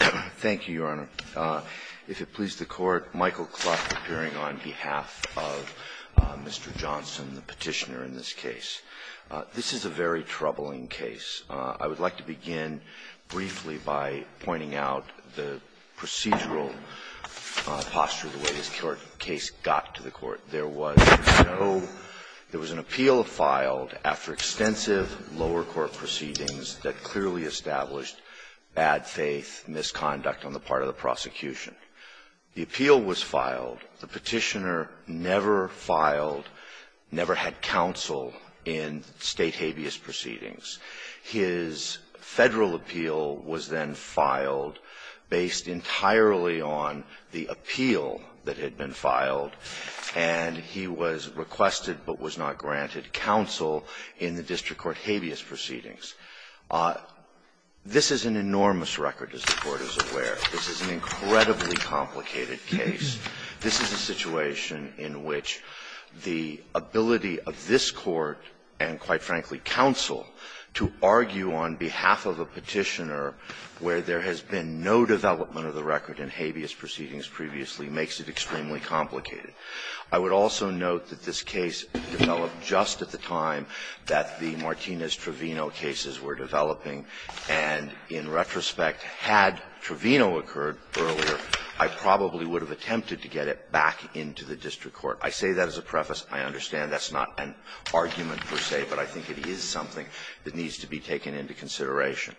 Thank you, Your Honor. If it please the Court, Michael Kluth appearing on behalf of Mr. Johnson, the petitioner in this case. This is a very troubling case. I would like to begin briefly by pointing out the procedural posture, the way this case got to the Court. There was no — there was an appeal filed after extensive lower court proceedings that clearly established bad faith misconduct on the part of the prosecution. The appeal was filed. The petitioner never filed, never had counsel in State habeas proceedings. His Federal appeal was then filed based entirely on the appeal that had been filed, and he was requested but was not granted counsel in the district court habeas proceedings. This is an enormous record, as the Court is aware. This is an incredibly complicated case. This is a situation in which the ability of this Court and, quite frankly, counsel to argue on behalf of a petitioner where there has been no development of the record in habeas proceedings previously makes it extremely complicated. I would also note that this case developed just at the time that the Martinez-Trovino cases were developing, and in retrospect, had Trovino occurred earlier, I probably would have attempted to get it back into the district court. I say that as a preface. I understand that's not an argument per se, but I think it is something that needs to be taken into consideration.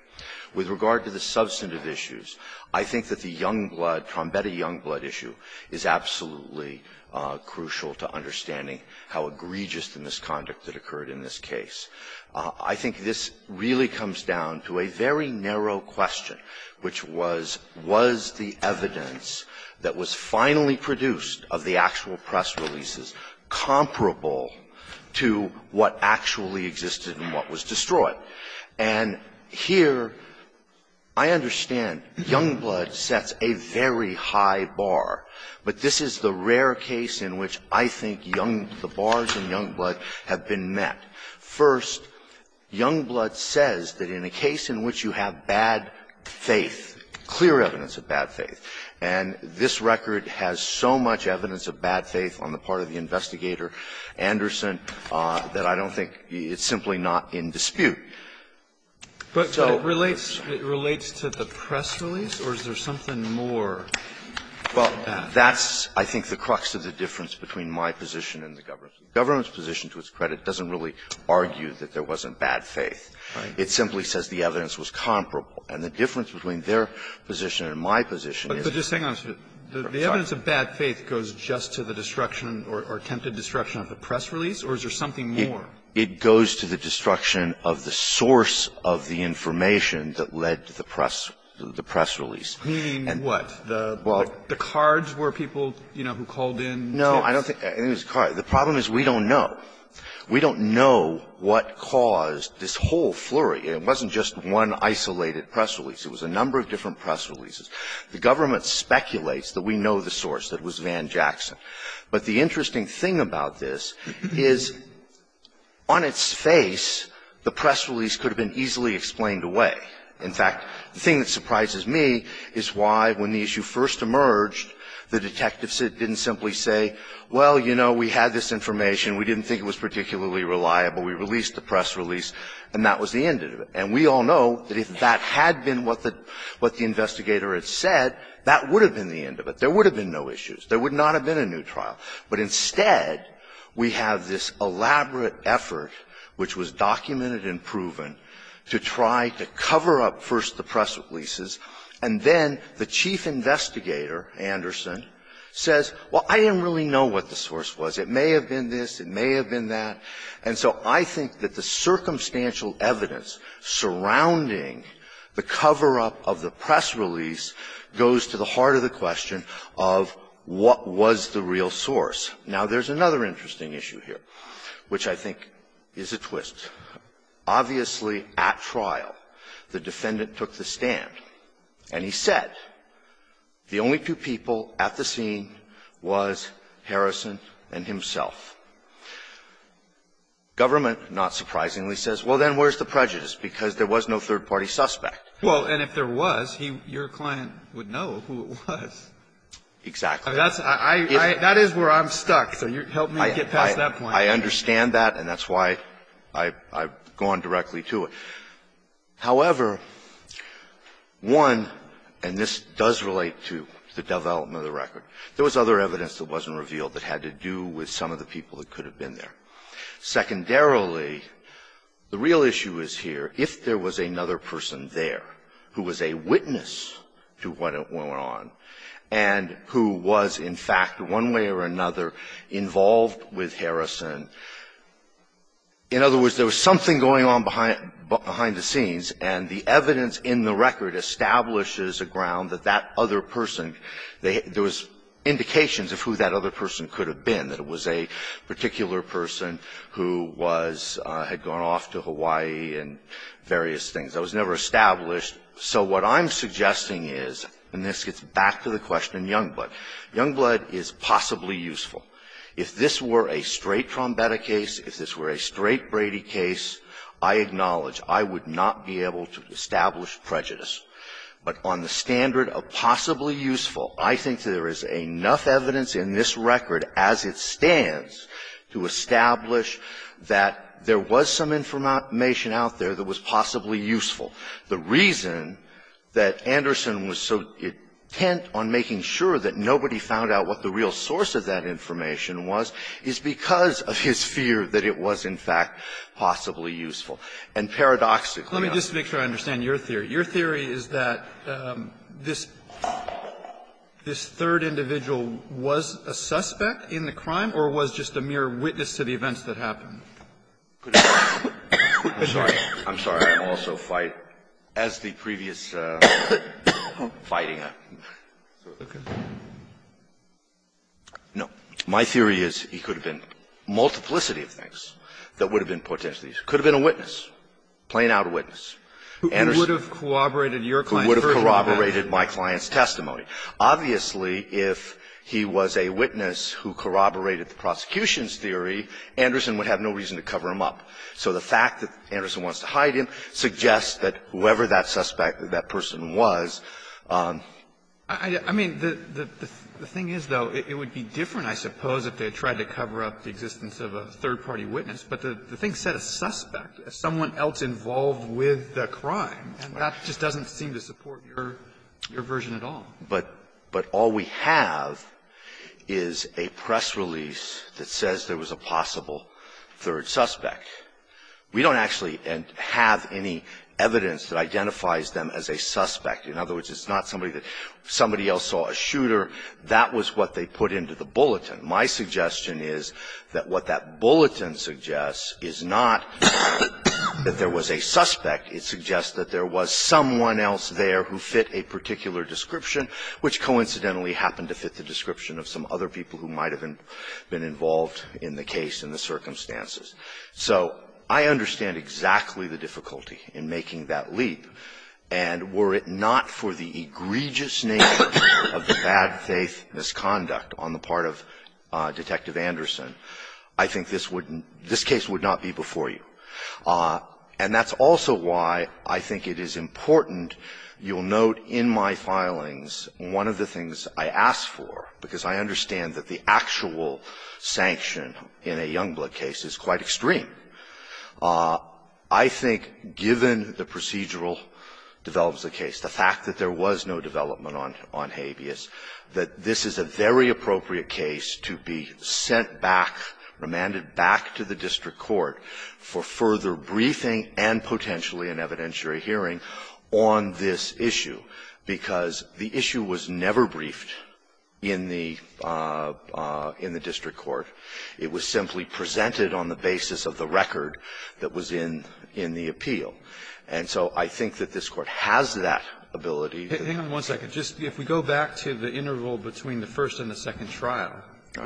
With regard to the substantive issues, I think that the young blood, Trombetti young blood issue, is absolutely crucial to understanding how egregious the misconduct that occurred in this case. I think this really comes down to a very narrow question, which was, was the evidence that was finally produced of the actual press releases comparable to what actually existed and what was destroyed? And here, I understand young blood sets a very high bar, but this is the rare case in which I think young the bars in young blood have been met. First, young blood says that in a case in which you have bad faith, clear evidence of bad faith. And this record has so much evidence of bad faith on the part of the investigator, Anderson, that I don't think it's simply not in dispute. So the question is, is there something more than that? Well, that's, I think, the crux of the difference between my position and the government's. The government's position, to its credit, doesn't really argue that there wasn't bad faith. It simply says the evidence was comparable. And the difference between their position and my position is that the evidence of bad faith goes just to the destruction or attempted destruction of the press release, or is there something more? It goes to the destruction of the source of the information that led to the press release. Meaning what? The cards were people, you know, who called in to the press. No, I don't think it was cards. The problem is we don't know. We don't know what caused this whole flurry. It wasn't just one isolated press release. It was a number of different press releases. The government speculates that we know the source, that it was Van Jackson. But the interesting thing about this is on its face, the press release could have been easily explained away. In fact, the thing that surprises me is why when the issue first emerged, the detectives didn't simply say, well, you know, we had this information, we didn't think it was particularly reliable, we released the press release, and that was the end of it. And we all know that if that had been what the investigator had said, that would have been the end of it. There would have been no issues. There would not have been a new trial. But instead, we have this elaborate effort, which was documented and proven, to try to cover up first the press releases, and then the chief investigator, Anderson, says, well, I didn't really know what the source was. It may have been this, it may have been that. And so I think that the circumstantial evidence surrounding the cover-up of the press release goes to the heart of the question of what was the real source. Now, there's another interesting issue here, which I think is a twist. Obviously, at trial, the defendant took the stand, and he said the only two people at the scene was Harrison and himself. Government, not surprisingly, says, well, then where's the prejudice, because there was no third-party suspect. Well, and if there was, he or your client would know who it was. Exactly. That's why I am stuck, so help me get past that point. I understand that, and that's why I've gone directly to it. However, one, and this does relate to the development of the record, there was other people that could have been there. Secondarily, the real issue is here, if there was another person there who was a witness to what went on, and who was, in fact, one way or another, involved with Harrison, in other words, there was something going on behind the scenes, and the evidence in the record establishes a ground that that other person, there was indications of who that other person could have been, that it was a particular person who was going off to Hawaii and various things. That was never established. So what I'm suggesting is, and this gets back to the question in Youngblood, Youngblood is possibly useful. If this were a straight Trombetta case, if this were a straight Brady case, I acknowledge I would not be able to establish prejudice. But on the standard of possibly useful, I think there is enough evidence in this record, as it stands, to establish that there was some information out there that was possibly useful. The reason that Anderson was so intent on making sure that nobody found out what the real source of that information was is because of his fear that it was, in fact, possibly useful. And paradoxically, I'm not sure I understand your theory. Your theory is that this third individual was a suspect in the crime or was just a mere witness to the events that happened. I'm sorry. I'm sorry. I will also fight as the previous fighting. No. My theory is he could have been a multiplicity of things that would have been potentially useful. Could have been a witness, plain-out witness. Anderson. Kennedy, who would have corroborated your client's version of that? Who would have corroborated my client's testimony. Obviously, if he was a witness who corroborated the prosecution's theory, Anderson would have no reason to cover him up. So the fact that Anderson wants to hide him suggests that whoever that suspect or that person was. I mean, the thing is, though, it would be different, I suppose, if they had tried to cover up the existence of a third-party witness. But the thing said a suspect, someone else involved with the crime. And that just doesn't seem to support your version at all. But all we have is a press release that says there was a possible third suspect. We don't actually have any evidence that identifies them as a suspect. In other words, it's not somebody that somebody else saw a shooter. That was what they put into the bulletin. My suggestion is that what that bulletin suggests is not that there was a suspect. It suggests that there was someone else there who fit a particular description, which coincidentally happened to fit the description of some other people who might have been involved in the case and the circumstances. So I understand exactly the difficulty in making that leap. And were it not for the egregious nature of the bad faith misconduct on the part of Detective Anderson, I think this case would not be before you. And that's also why I think it is important, you'll note in my filings, one of the things I ask for, because I understand that the actual sanction in a Youngblood case is quite extreme, I think, given the procedural developments of the case, the fact that there was no development on Habeas, that this is a very appropriate case to be sent back, remanded back to the district court for further briefing and potentially an evidentiary hearing on this issue, because the issue was never briefed in the district court. It was simply presented on the basis of the record that was in the appeal. And so I think that this Court has that ability. Kennedy, if we go back to the interval between the first and the second trial,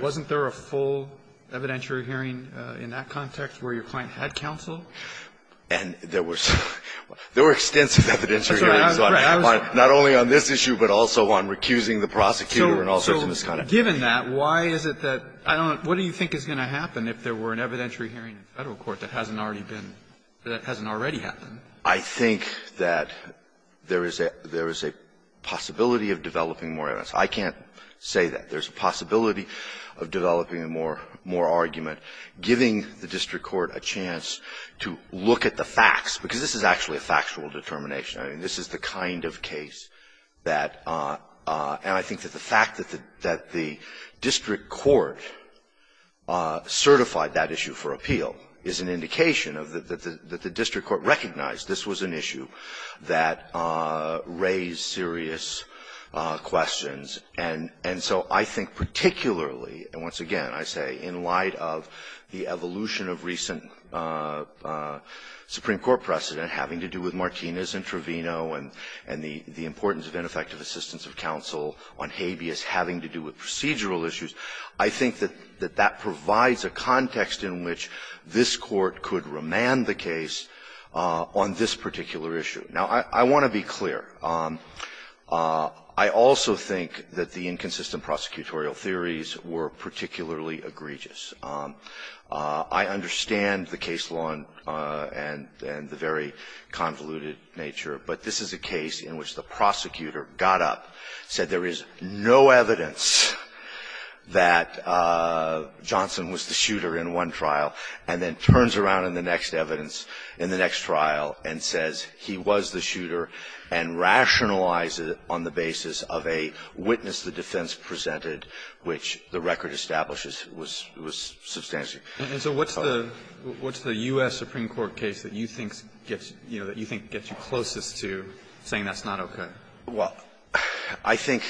wasn't there a full evidentiary hearing in that context where your client had counsel? And there were extensive evidentiary hearings on Habeas, not only on this issue, but also on recusing the prosecutor and all sorts of misconduct. So given that, why is it that I don't know, what do you think is going to happen if there were an evidentiary hearing in Federal court that hasn't already been, that hasn't already happened? I think that there is a possibility of developing more evidence. I can't say that. There's a possibility of developing more argument, giving the district court a chance to look at the facts, because this is actually a factual determination. I mean, this is the kind of case that the district court certified that issue for Habeas. This was an issue that raised serious questions. And so I think particularly, and once again, I say, in light of the evolution of recent Supreme Court precedent having to do with Martinez and Trevino and the importance of ineffective assistance of counsel on Habeas having to do with procedural issues, I think that that provides a context in which this Court could remand the case on this particular issue. Now, I want to be clear. I also think that the inconsistent prosecutorial theories were particularly egregious. I understand the case law and the very convoluted nature, but this is a case in which the prosecutor got up, said there is no evidence that Johnson was the shooter in one trial, and then turns around in the next evidence, in the next trial, and says he was the shooter, and rationalized it on the basis of a witness the defense presented, which the record establishes was substantial. And so what's the U.S. Supreme Court case that you think gets, you know, that you think gets you closest to saying that's not okay? Well, I think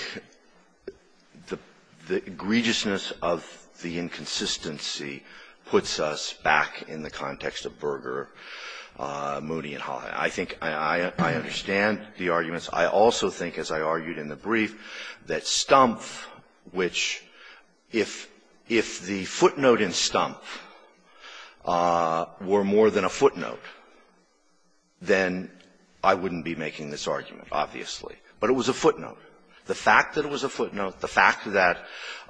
the egregiousness of the inconsistency puts us back in the context of Berger, Moody, and Holley. I think I understand the arguments. I also think, as I argued in the brief, that Stumpf, which if the footnote in Stumpf were more than a footnote, then I wouldn't be making this argument, obviously. But it was a footnote. The fact that it was a footnote, the fact that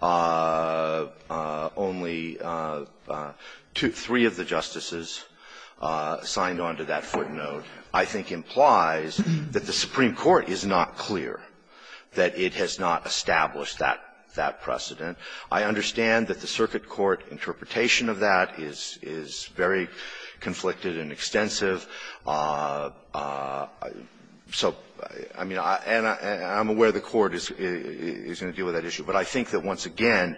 only two, three of the justices signed on to that footnote, I think implies that the Supreme Court is not clear, that it has not established that precedent. I understand that the circuit court interpretation of that is very conflicted and extensive. So, I mean, and I'm aware the Court is going to deal with that issue. But I think that, once again,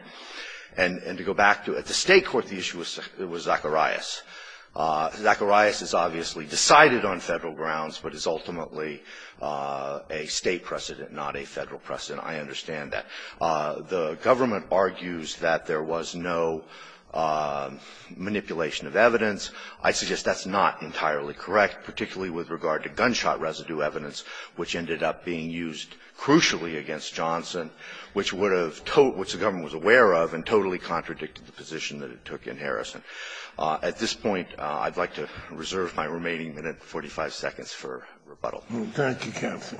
and to go back to at the State court, the issue was Zacharias. Zacharias is obviously decided on Federal grounds, but is ultimately a State precedent, not a Federal precedent. I understand that. The government argues that there was no manipulation of evidence. I suggest that's not entirely correct, particularly with regard to gunshot residue evidence, which ended up being used crucially against Johnson, which would have told the government was aware of and totally contradicted the position that it took in Harrison. At this point, I'd like to reserve my remaining minute and 45 seconds for rebuttal. Thank you, Counsel.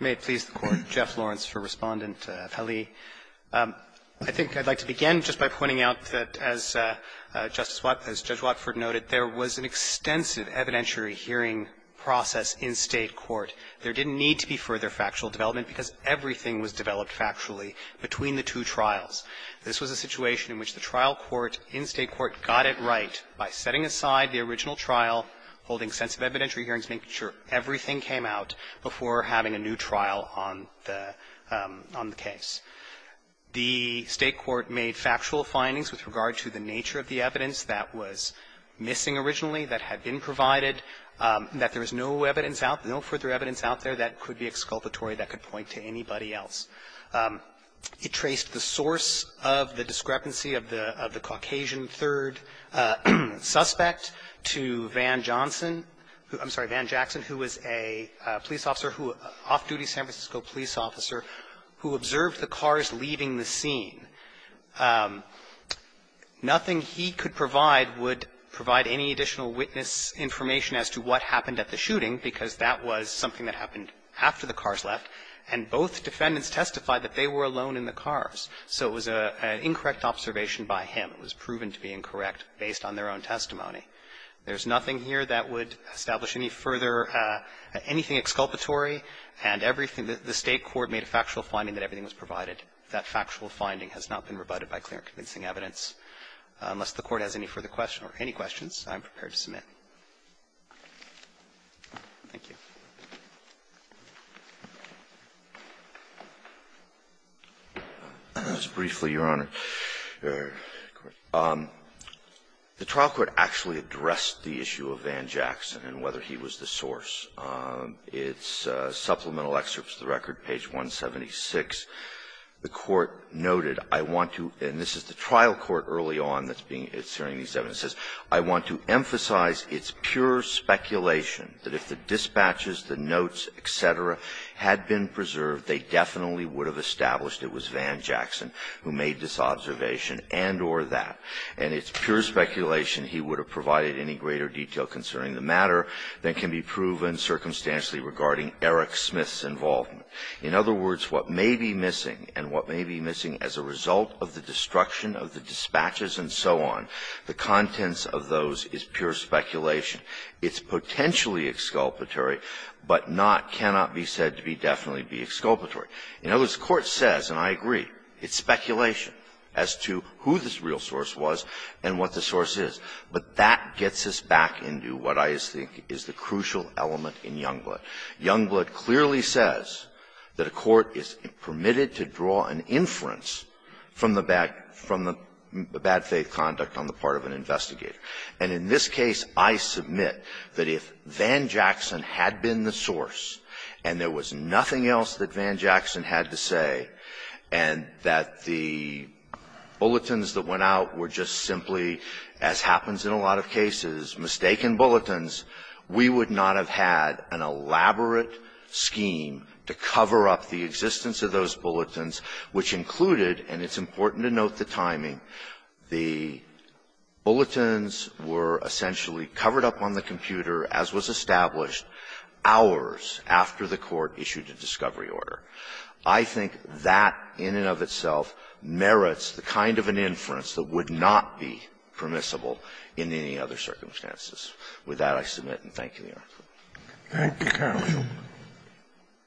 May it please the Court. Jeff Lawrence for Respondent of Halee. I think I'd like to begin just by pointing out that, as Justice Wattford noted, there was an extensive evidentiary hearing process in State court. There didn't need to be further factual development because everything was developed factually between the two trials. This was a situation in which the trial court in State court got it right by setting aside the original trial, holding extensive evidentiary hearings, making sure everything came out before having a new trial on the case. The State court made factual findings with regard to the nature of the evidence that was missing originally, that had been provided, that there was no evidence out, no further evidence out there that could be exculpatory, that could point to anybody else. It traced the source of the discrepancy of the Caucasian third suspect to Van Johnson who – I'm sorry, Van Jackson, who was a police officer who – off-duty San Francisco police officer who observed the cars leaving the scene. Nothing he could provide would provide any additional witness information as to what happened at the shooting, because that was something that happened after the cars left, and both defendants testified that they were alone in the cars. So it was an incorrect observation by him. It was proven to be incorrect based on their own testimony. There's nothing here that would establish any further – anything exculpatory. And everything – the State court made a factual finding that everything was provided. That factual finding has not been rebutted by clear and convincing evidence. Unless the Court has any further question or any questions, I'm prepared to submit. Thank you. Verrilli,, your Honor. The trial court actually addressed the issue of Van Jackson and whether he was the source. It's supplemental excerpts to the record, page 176. The court noted, I want to – and this is the trial court early on that's being – it's hearing these evidences – I want to emphasize it's pure speculation that if the dispatches, the notes, et cetera, had been preserved, they definitely would have established it was Van Jackson who made this observation and or that. And it's pure speculation he would have provided any greater detail concerning the matter than can be proven circumstantially regarding Eric Smith's involvement. In other words, what may be missing, and what may be missing as a result of the destruction of the dispatches and so on, the contents of those is pure speculation. It's potentially exculpatory, but not, cannot be said to be definitely be exculpatory. In other words, the Court says, and I agree, it's speculation as to who this real source was and what the source is. But that gets us back into what I think is the crucial element in Youngblood. Youngblood clearly says that a court is permitted to draw an inference from the back from the bad faith conduct on the part of an investigator. And in this case, I submit that if Van Jackson had been the source and there was nothing else that Van Jackson had to say, and that the bulletins that went out were just simply, as happens in a lot of cases, mistaken bulletins, we would not have had an elaborate scheme to cover up the existence of those bulletins, which included, and it's important to note the timing, the bulletins were essentially covered up on the computer, as was established, hours after the Court issued a discovery order. I think that in and of itself merits the kind of an inference that would not be permissible in any other circumstances. With that, I submit and thank you, Your Honor. Thank you, counsel.